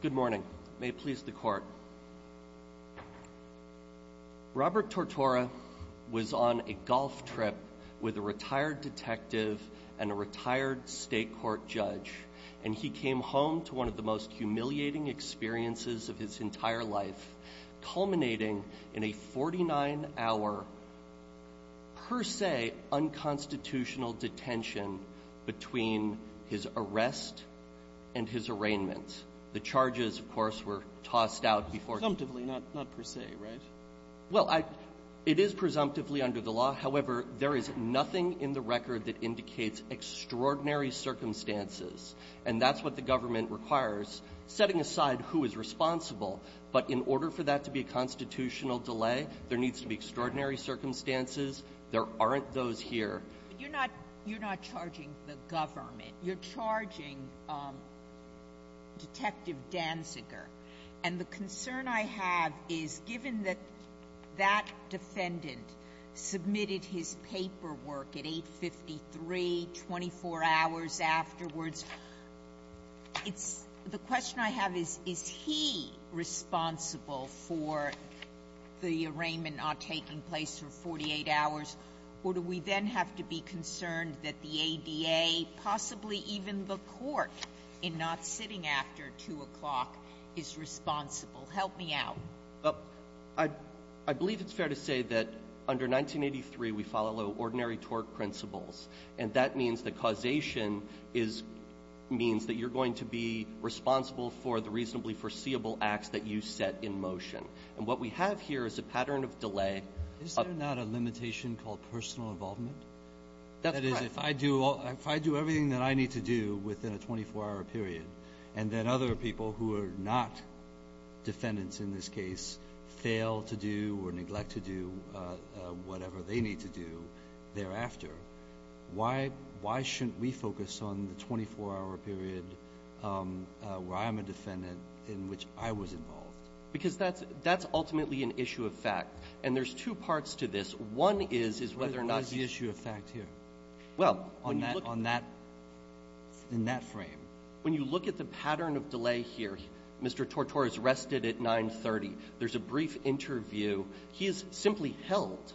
Good morning. May it please the court. Robert Tortora was on a golf trip with a retired detective and a retired state court judge and he came home to one of the most humiliating experiences of his entire life culminating in a 49 hour per se unconstitutional detention between his arrest and his arraignment. The charges, of course, were tossed out before Presumptively, not per se, right? Well, it is presumptively under the law, however, there is nothing in the record that indicates extraordinary circumstances and that's what the government requires, setting aside who is responsible but in order for that to be a constitutional delay, there needs to be extraordinary circumstances. There aren't those here. You're not charging the government. You're charging Detective Danziger. And the concern I have is, given that that defendant submitted his paperwork at 8.53 24 hours afterwards, the question I have is, is he responsible for the arraignment not taking place for 48 hours or do we then have to be concerned that the ADA, possibly even the court, in not sitting after 2 o'clock is responsible? Help me out. I believe it's fair to say that under 1983 we follow ordinary tort principles and that means that causation means that you're going to be responsible for the reasonably foreseeable acts that you set in motion. And what we have here is a pattern of delay Is there not a limitation called personal involvement? That's correct. If I do everything that I need to do within a 24-hour period and then other people who are not defendants in this case fail to do or neglect to do whatever they need to do thereafter, why shouldn't we focus on the 24-hour period where I'm a defendant in which I was involved? Because that's ultimately an issue of fact. And there's two parts to this. One is, is whether or not What is the issue of fact here? Well, when you look On that frame When you look at the pattern of delay here, Mr. Tortor is arrested at 9.30. There's a brief interview. He is simply held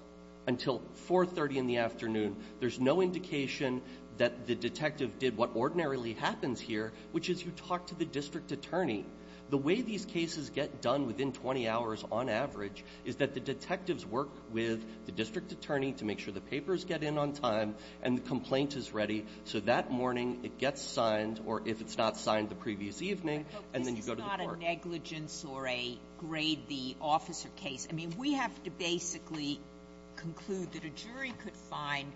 until 4.30 in the afternoon. There's no indication that the detective did what ordinarily happens here, which is you talk to the district attorney. The way these cases get done within 20 hours on average is that the detectives work with the district attorney to make sure the papers get in on time and the complaint is ready so that morning it gets signed or if it's not signed the previous evening and then you go to the court. This is not a negligence or a grade the officer case. I mean, we have to basically conclude that a jury could find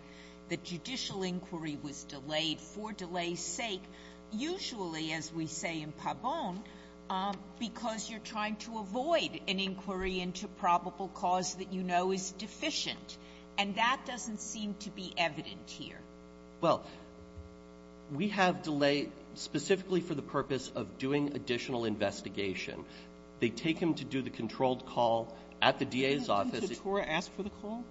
that judicial inquiry was delayed for delay's sake. Usually, as we say in Pabon, because you're trying to avoid an inquiry into probable cause that you know is deficient. And that doesn't seem to be evident here. Well, we have delay specifically for the purpose of doing additional investigation. They take him to do the controlled call at the DA's office. Didn't Mr. Tortor ask for the call?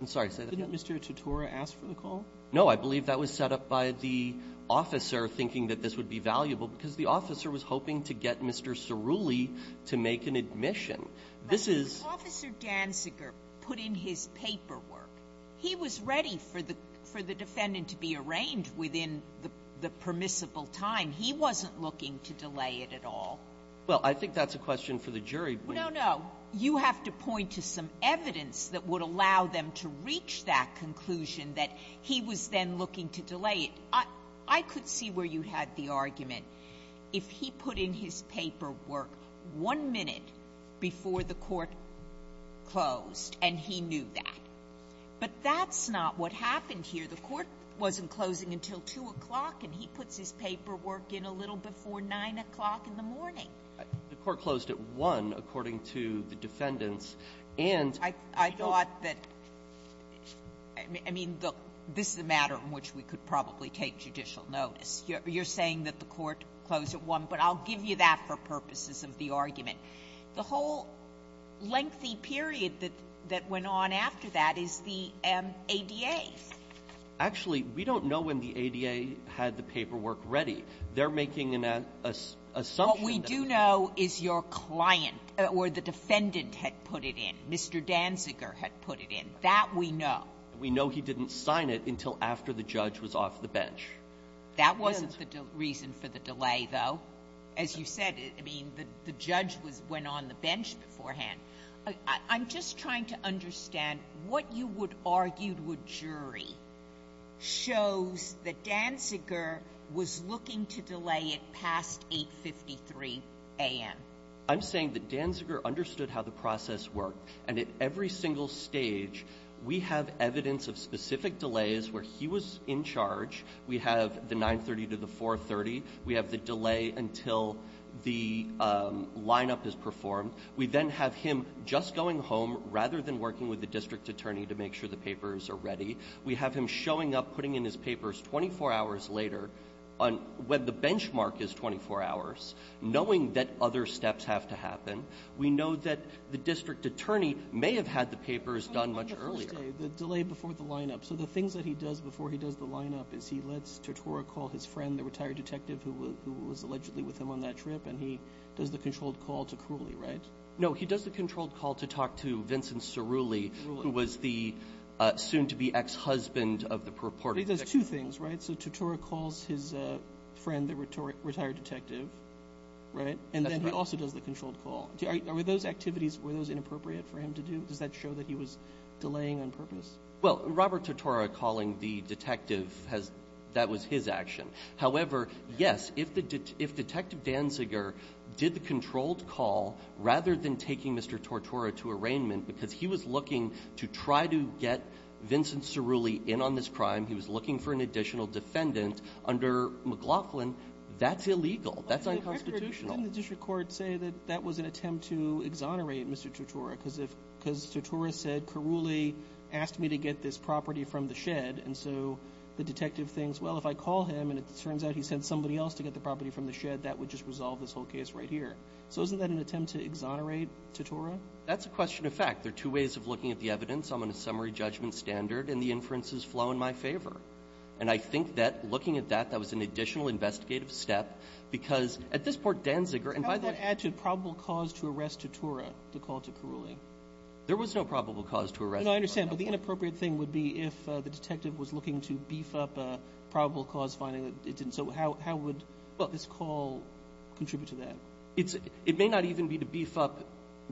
I'm sorry. Say that again. Didn't Mr. Tortor ask for the call? No. I believe that was set up by the officer thinking that this would be valuable because the officer was hoping to get Mr. Cerulli to make an admission. This is — But if Officer Danziger put in his paperwork, he was ready for the defendant to be arraigned within the permissible time. He wasn't looking to delay it at all. Well, I think that's a question for the jury. No, no. You have to point to some evidence that would allow them to reach that conclusion that he was then looking to delay it. I could see where you had the argument. If he put in his paperwork one minute before the court closed and he knew that. But that's not what happened here. The court wasn't closing until 2 o'clock, and he puts his paperwork in a little before 9 o'clock in the morning. The court closed at 1, according to the defendants, and — Well, I thought that — I mean, this is a matter in which we could probably take judicial notice. You're saying that the court closed at 1, but I'll give you that for purposes of the argument. The whole lengthy period that went on after that is the ADA. Actually, we don't know when the ADA had the paperwork ready. They're making an assumption What we do know is your client or the defendant had put it in, Mr. Danziger had put it in. That we know. We know he didn't sign it until after the judge was off the bench. That wasn't the reason for the delay, though. As you said, I mean, the judge was — went on the bench beforehand. I'm just trying to understand what you would argue would jury shows that Danziger was looking to delay it past 8.53 a.m.? I'm saying that Danziger understood how the process worked. And at every single stage, we have evidence of specific delays where he was in charge. We have the 9.30 to the 4.30. We have the delay until the lineup is performed. We then have him just going home rather than working with the district attorney to make sure the papers are ready. We have him showing up, putting in his papers 24 hours later when the benchmark is 24 hours, knowing that other steps have to happen. We know that the district attorney may have had the papers done much earlier. On the first day, the delay before the lineup. So the things that he does before he does the lineup is he lets Tortora call his friend, the retired detective who was allegedly with him on that trip, and he does the controlled call to Crulley, right? No, he does the controlled call to talk to Vincent Cerulli, who was the soon-to-be ex-husband of the purported detective. But he does two things, right? So Tortora calls his friend, the retired detective, right? That's right. And then he also does the controlled call. Are those activities, were those inappropriate for him to do? Does that show that he was delaying on purpose? Well, Robert Tortora calling the detective, that was his action. However, yes, if Detective Danziger did the controlled call, rather than taking Mr. Tortora to arraignment, because he was looking to try to get Vincent Cerulli in on this crime, he was looking for an additional defendant under McLaughlin, that's illegal. That's unconstitutional. But didn't the district court say that that was an attempt to exonerate Mr. Tortora, because if Mr. Tortora said, Crulley asked me to get this property from the shed, and so the detective thinks, well, if I call him and it turns out he sent somebody else to get the property from the shed, that would just resolve this whole case right here. So isn't that an attempt to exonerate Tortora? That's a question of fact. There are two ways of looking at the evidence. I'm on a summary judgment standard, and the inferences flow in my favor. And I think that looking at that, that was an additional investigative step, because at this point, Danziger, and by the way ---- How would that add to probable cause to arrest Tortora to call to Cerulli? There was no probable cause to arrest Tortora. I mean, I understand. But the inappropriate thing would be if the detective was looking to beef up a probable cause finding that it didn't. So how would this call contribute to that? It may not even be to beef up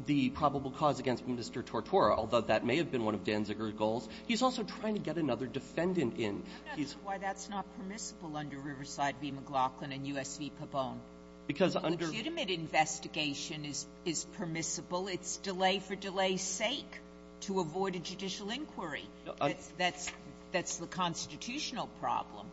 the probable cause against Mr. Tortora, although that may have been one of Danziger's goals. He's also trying to get another defendant in. I'm not sure why that's not permissible under Riverside v. McLaughlin and U.S. v. Because under ---- Legitimate investigation is permissible. It's delay for delay's sake to avoid a judicial inquiry. That's the constitutional problem.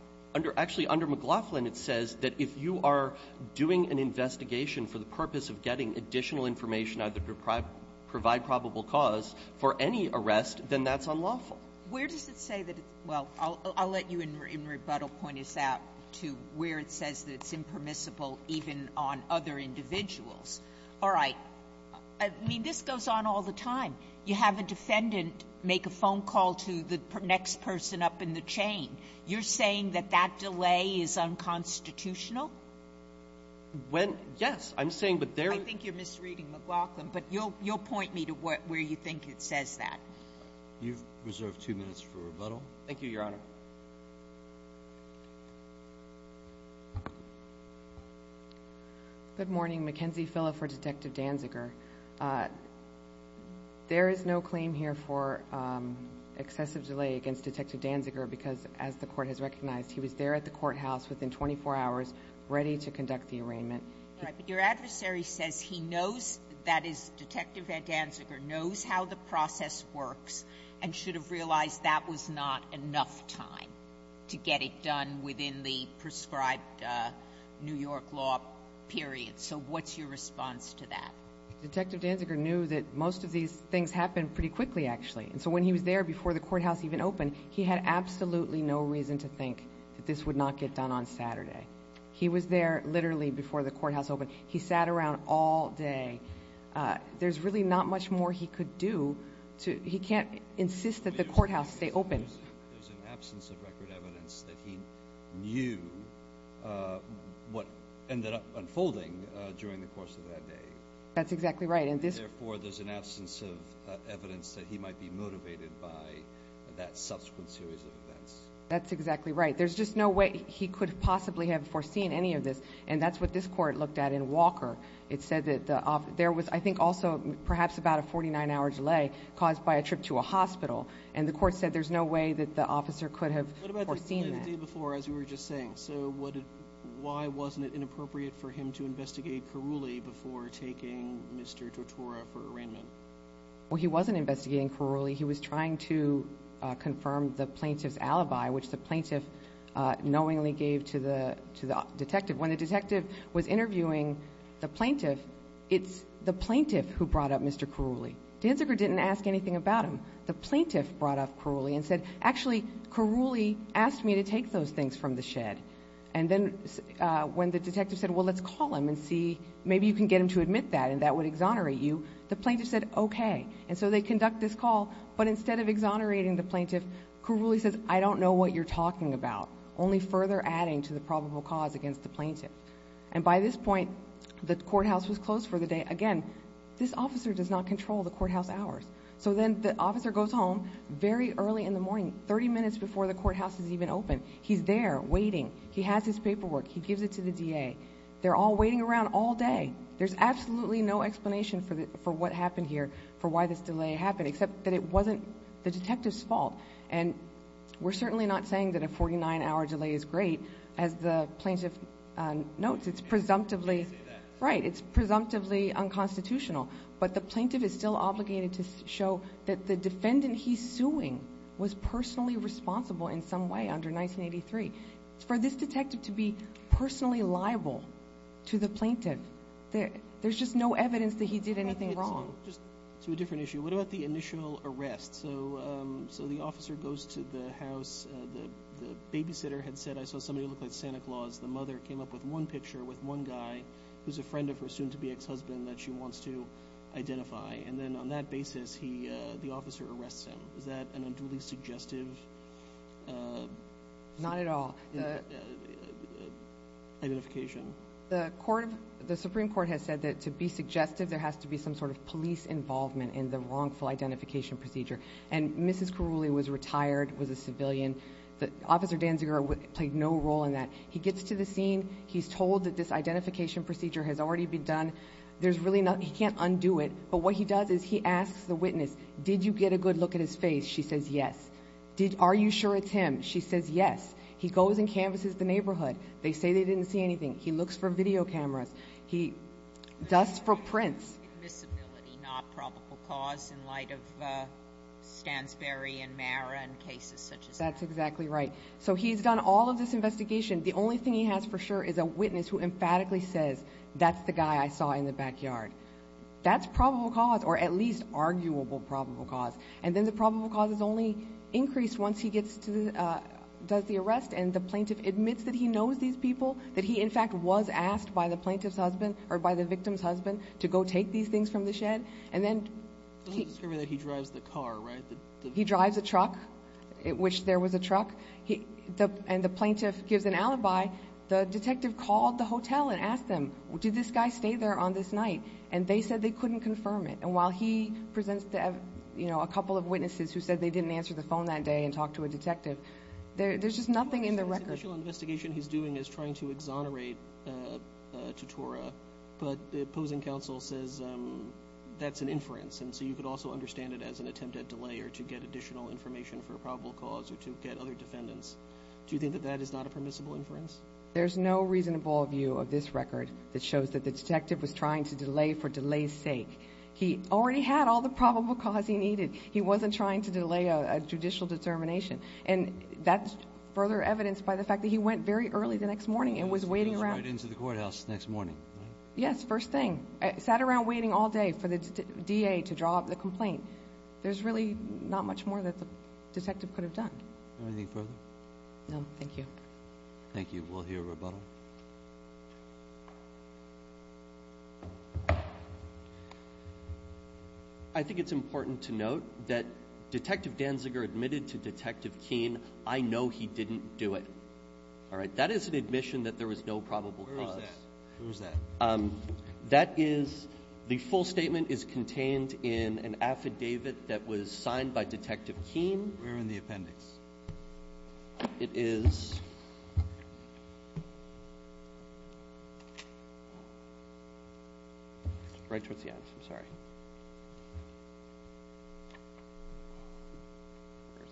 Actually, under McLaughlin, it says that if you are doing an investigation for the purpose of getting additional information either to provide probable cause for any arrest, then that's unlawful. Where does it say that it's ---- well, I'll let you in rebuttal point us out to where it says that it's impermissible even on other individuals. All right. I mean, this goes on all the time. You have a defendant make a phone call to the next person up in the chain. You're saying that that delay is unconstitutional? When ---- yes. I'm saying, but there ---- I think you're misreading McLaughlin, but you'll point me to where you think it says that. You've reserved two minutes for rebuttal. Thank you, Your Honor. Good morning. Mackenzie Phillip for Detective Danziger. There is no claim here for excessive delay against Detective Danziger because, as the Court has recognized, he was there at the courthouse within 24 hours ready to conduct the arraignment. Right. But your adversary says he knows that is Detective Danziger knows how the process works and should have realized that was not enough time. To get it done within the prescribed New York law period. So what's your response to that? Detective Danziger knew that most of these things happen pretty quickly, actually. And so when he was there before the courthouse even opened, he had absolutely no reason to think that this would not get done on Saturday. He was there literally before the courthouse opened. He sat around all day. There's really not much more he could do. He can't insist that the courthouse stay open. There's an absence of record evidence that he knew what ended up unfolding during the course of that day. That's exactly right. Therefore, there's an absence of evidence that he might be motivated by that subsequent series of events. That's exactly right. There's just no way he could possibly have foreseen any of this, and that's what this Court looked at in Walker. It said that there was, I think, also perhaps about a 49-hour delay caused by a trip to a hospital. And the Court said there's no way that the officer could have foreseen that. What about the delay the day before, as you were just saying? So why wasn't it inappropriate for him to investigate Kourouli before taking Mr. Tortora for arraignment? Well, he wasn't investigating Kourouli. He was trying to confirm the plaintiff's alibi, which the plaintiff knowingly gave to the detective. When the detective was interviewing the plaintiff, it's the plaintiff who brought up Mr. Kourouli. Danziger didn't ask anything about him. The plaintiff brought up Kourouli and said, actually, Kourouli asked me to take those things from the shed. And then when the detective said, well, let's call him and see, maybe you can get him to admit that and that would exonerate you, the plaintiff said, okay. And so they conduct this call, but instead of exonerating the plaintiff, Kourouli says, I don't know what you're talking about, only further adding to the probable cause against the plaintiff. And by this point, the courthouse was closed for the day. Again, this officer does not control the courthouse hours. So then the officer goes home very early in the morning, 30 minutes before the courthouse is even open. He's there waiting. He has his paperwork. He gives it to the DA. They're all waiting around all day. There's absolutely no explanation for what happened here, for why this delay happened, except that it wasn't the detective's fault. And we're certainly not saying that a 49-hour delay is great. As the plaintiff notes, it's presumptively unconstitutional. But the plaintiff is still obligated to show that the defendant he's suing was personally responsible in some way under 1983. For this detective to be personally liable to the plaintiff, there's just no evidence that he did anything wrong. Just to a different issue, what about the initial arrest? So the officer goes to the house. The babysitter had said, I saw somebody who looked like Santa Claus. The mother came up with one picture with one guy who's a friend of her soon-to-be ex-husband that she wants to identify. And then on that basis, the officer arrests him. Is that an unduly suggestive identification? Not at all. The Supreme Court has said that to be suggestive, there has to be some sort of police involvement in the wrongful identification procedure. And Mrs. Carulli was retired, was a civilian. Officer Danziger played no role in that. He gets to the scene. He's told that this identification procedure has already been done. There's really nothing. He can't undo it. But what he does is he asks the witness, did you get a good look at his face? She says yes. Are you sure it's him? She says yes. He goes and canvasses the neighborhood. They say they didn't see anything. He looks for video cameras. He does for prints. Invisibility, not probable cause in light of Stansberry and Mara and cases such as that. That's exactly right. So he's done all of this investigation. The only thing he has for sure is a witness who emphatically says, that's the guy I saw in the backyard. That's probable cause or at least arguable probable cause. And then the probable cause is only increased once he gets to the ‑‑ does the arrest and the plaintiff admits that he knows these people, that he, in fact, was asked by the plaintiff's husband or by the victim's husband to go take these things from the shed. And then ‑‑ He drives the car, right? He drives a truck, which there was a truck. And the plaintiff gives an alibi. The detective called the hotel and asked them, did this guy stay there on this night? And they said they couldn't confirm it. And while he presents to a couple of witnesses who said they didn't answer the phone that day and talk to a detective, there's just nothing in the record. The initial investigation he's doing is trying to exonerate Totora, but the opposing counsel says that's an inference, and so you could also understand it as an attempt at delay or to get additional information for a probable cause or to get other defendants. Do you think that that is not a permissible inference? There's no reasonable view of this record that shows that the detective was trying to delay for delay's sake. He already had all the probable cause he needed. He wasn't trying to delay a judicial determination. And that's further evidenced by the fact that he went very early the next morning and was waiting around. He goes right into the courthouse the next morning, right? Yes, first thing. Sat around waiting all day for the DA to draw up the complaint. There's really not much more that the detective could have done. Anything further? No, thank you. Thank you. We'll hear rebuttal. I think it's important to note that Detective Danziger admitted to Detective Keene, I know he didn't do it. All right? That is an admission that there was no probable cause. Where is that? Where is that? That is the full statement is contained in an affidavit that was signed by Detective Keene. Where in the appendix? It is right towards the end. I'm sorry. Where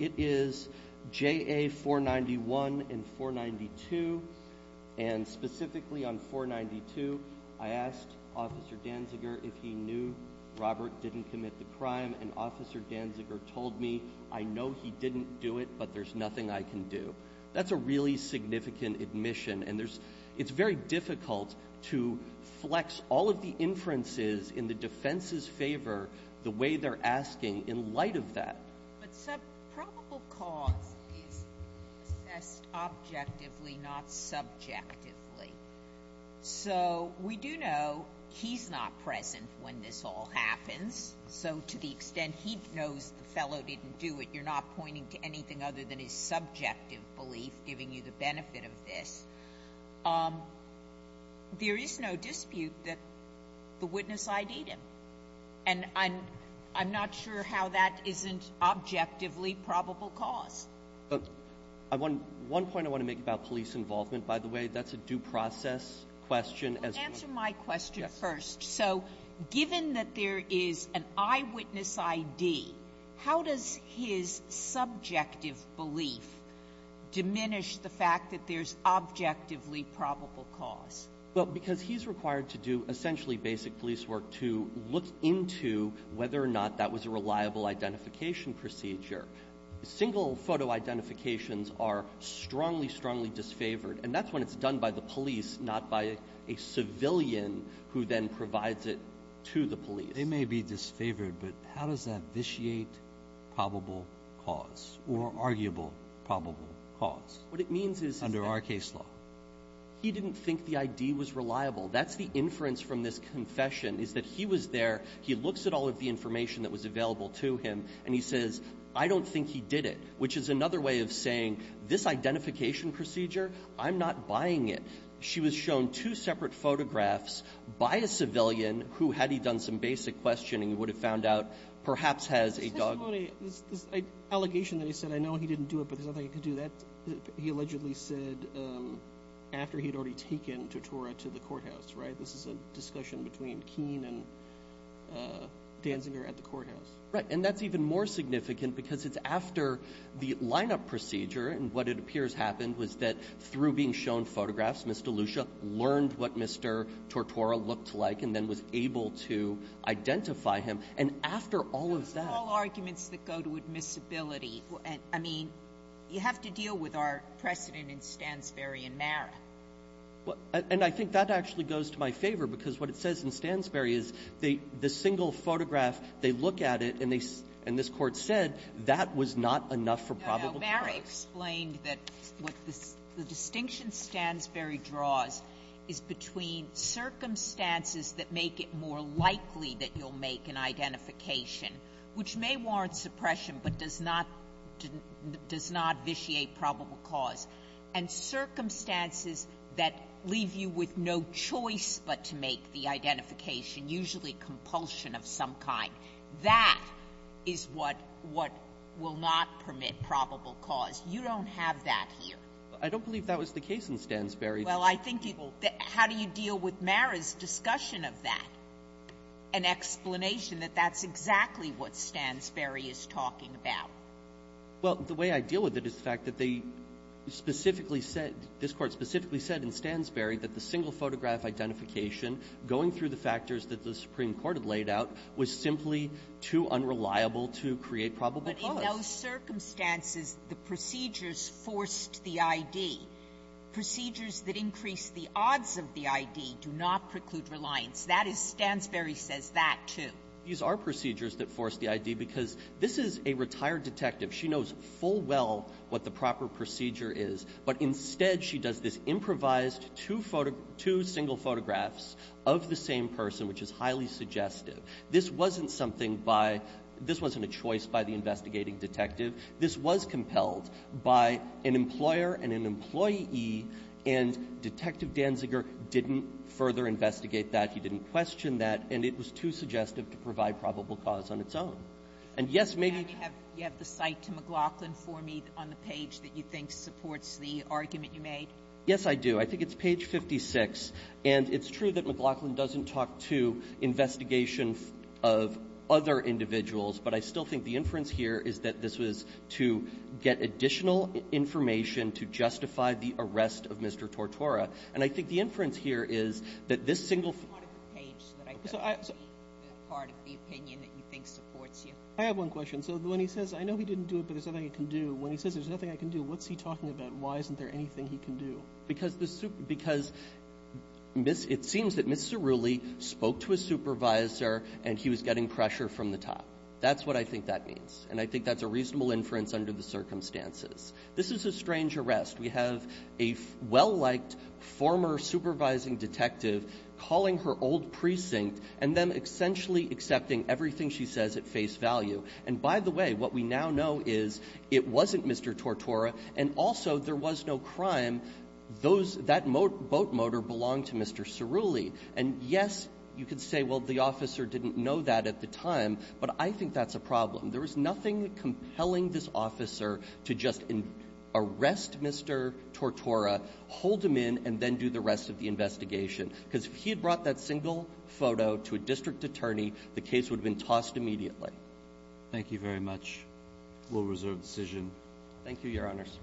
is it? It is JA 491 and 492. And specifically on 492, I asked Officer Danziger if he knew Robert didn't commit the crime. And Officer Danziger told me, I know he didn't do it, but there's nothing I can do. That's a really significant admission. And it's very difficult to flex all of the inferences in the defense's favor the way they're asking in light of that. But probable cause is assessed objectively, not subjectively. So we do know he's not present when this all happens. So to the extent he knows the fellow didn't do it, you're not pointing to anything other than his subjective belief giving you the benefit of this, there is no dispute that the witness ID'd him. And I'm not sure how that isn't objectively probable cause. One point I want to make about police involvement, by the way, that's a due process question. Answer my question first. So given that there is an eyewitness ID, how does his subjective belief diminish the fact that there's objectively probable cause? Well, because he's required to do essentially basic police work to look into whether or not that was a reliable identification procedure. Single photo identifications are strongly, strongly disfavored. And that's when it's done by the police, not by a civilian who then provides it to the police. They may be disfavored, but how does that vitiate probable cause or arguable probable cause under our case law? What it means is that he didn't think the ID was reliable. That's the inference from this confession is that he was there, he looks at all of the information that was available to him, and he says, I don't think he did it, which is another way of saying this identification procedure, I'm not buying it. She was shown two separate photographs by a civilian who, had he done some basic questioning, would have found out perhaps has a dogma. This allegation that he said, I know he didn't do it, but there's no way he could do that, he allegedly said after he had already taken Tortora to the courthouse, right? This is a discussion between Keene and Danziger at the courthouse. Right. And that's even more significant because it's after the lineup procedure, and what it appears happened was that through being shown photographs, Mr. Lucia learned what Mr. Tortora looked like and then was able to identify him. And after all of that — Those are all arguments that go to admissibility. I mean, you have to deal with our precedent in Stansbury and Mara. And I think that actually goes to my favor, because what it says in Stansbury is they — the single photograph, they look at it and they — and this Court said that was not enough for probable cause. No. No. Mara explained that what the distinction Stansbury draws is between circumstances that make it more likely that you'll make an identification, which may warrant suppression but does not — does not vitiate probable cause, and circumstances that leave you with no choice but to make the identification, usually compulsion of some kind. That is what — what will not permit probable cause. You don't have that here. I don't believe that was the case in Stansbury. Well, I think people — how do you deal with Mara's discussion of that, an explanation that that's exactly what Stansbury is talking about? Well, the way I deal with it is the fact that they specifically said — this Court specifically said in Stansbury that the single photograph identification going through the factors that the Supreme Court had laid out was simply too unreliable to create probable cause. But in those circumstances, the procedures forced the ID. Procedures that increase the odds of the ID do not preclude reliance. That is — Stansbury says that, too. These are procedures that force the ID because this is a retired detective. She knows full well what the proper procedure is. But instead, she does this improvised two — two single photographs of the same person, which is highly suggestive. This wasn't something by — this wasn't a choice by the investigating detective. This was compelled by an employer and an employee, and Detective Danziger didn't further investigate that. He didn't question that. And it was too suggestive to provide probable cause on its own. And, yes, maybe — And you have — you have the cite to McLaughlin for me on the page that you think supports the argument you made? Yes, I do. I think it's page 56. And it's true that McLaughlin doesn't talk to investigation of other individuals, but I still think the inference here is that this was to get additional information to justify the arrest of Mr. Tortora. And I think the inference here is that this single — It's part of the page that I thought would be part of the opinion that you think supports you. I have one question. So when he says, I know he didn't do it, but there's nothing I can do, when he says there's nothing I can do, what's he talking about? Why isn't there anything he can do? Because the — because it seems that Mr. Rooley spoke to a supervisor and he was getting pressure from the top. That's what I think that means. And I think that's a reasonable inference under the circumstances. This is a strange arrest. We have a well-liked former supervising detective calling her old precinct and then essentially accepting everything she says at face value. And by the way, what we now know is it wasn't Mr. Tortora and also there was no crime. Those — that boat motor belonged to Mr. Cerulli. And yes, you could say, well, the officer didn't know that at the time, but I think that's a problem. There was nothing compelling this officer to just arrest Mr. Tortora, hold him in, and then do the rest of the investigation. Because if he had brought that single photo to a district attorney, the case would have been tossed immediately. Thank you very much. We'll reserve the decision. Thank you, Your Honors.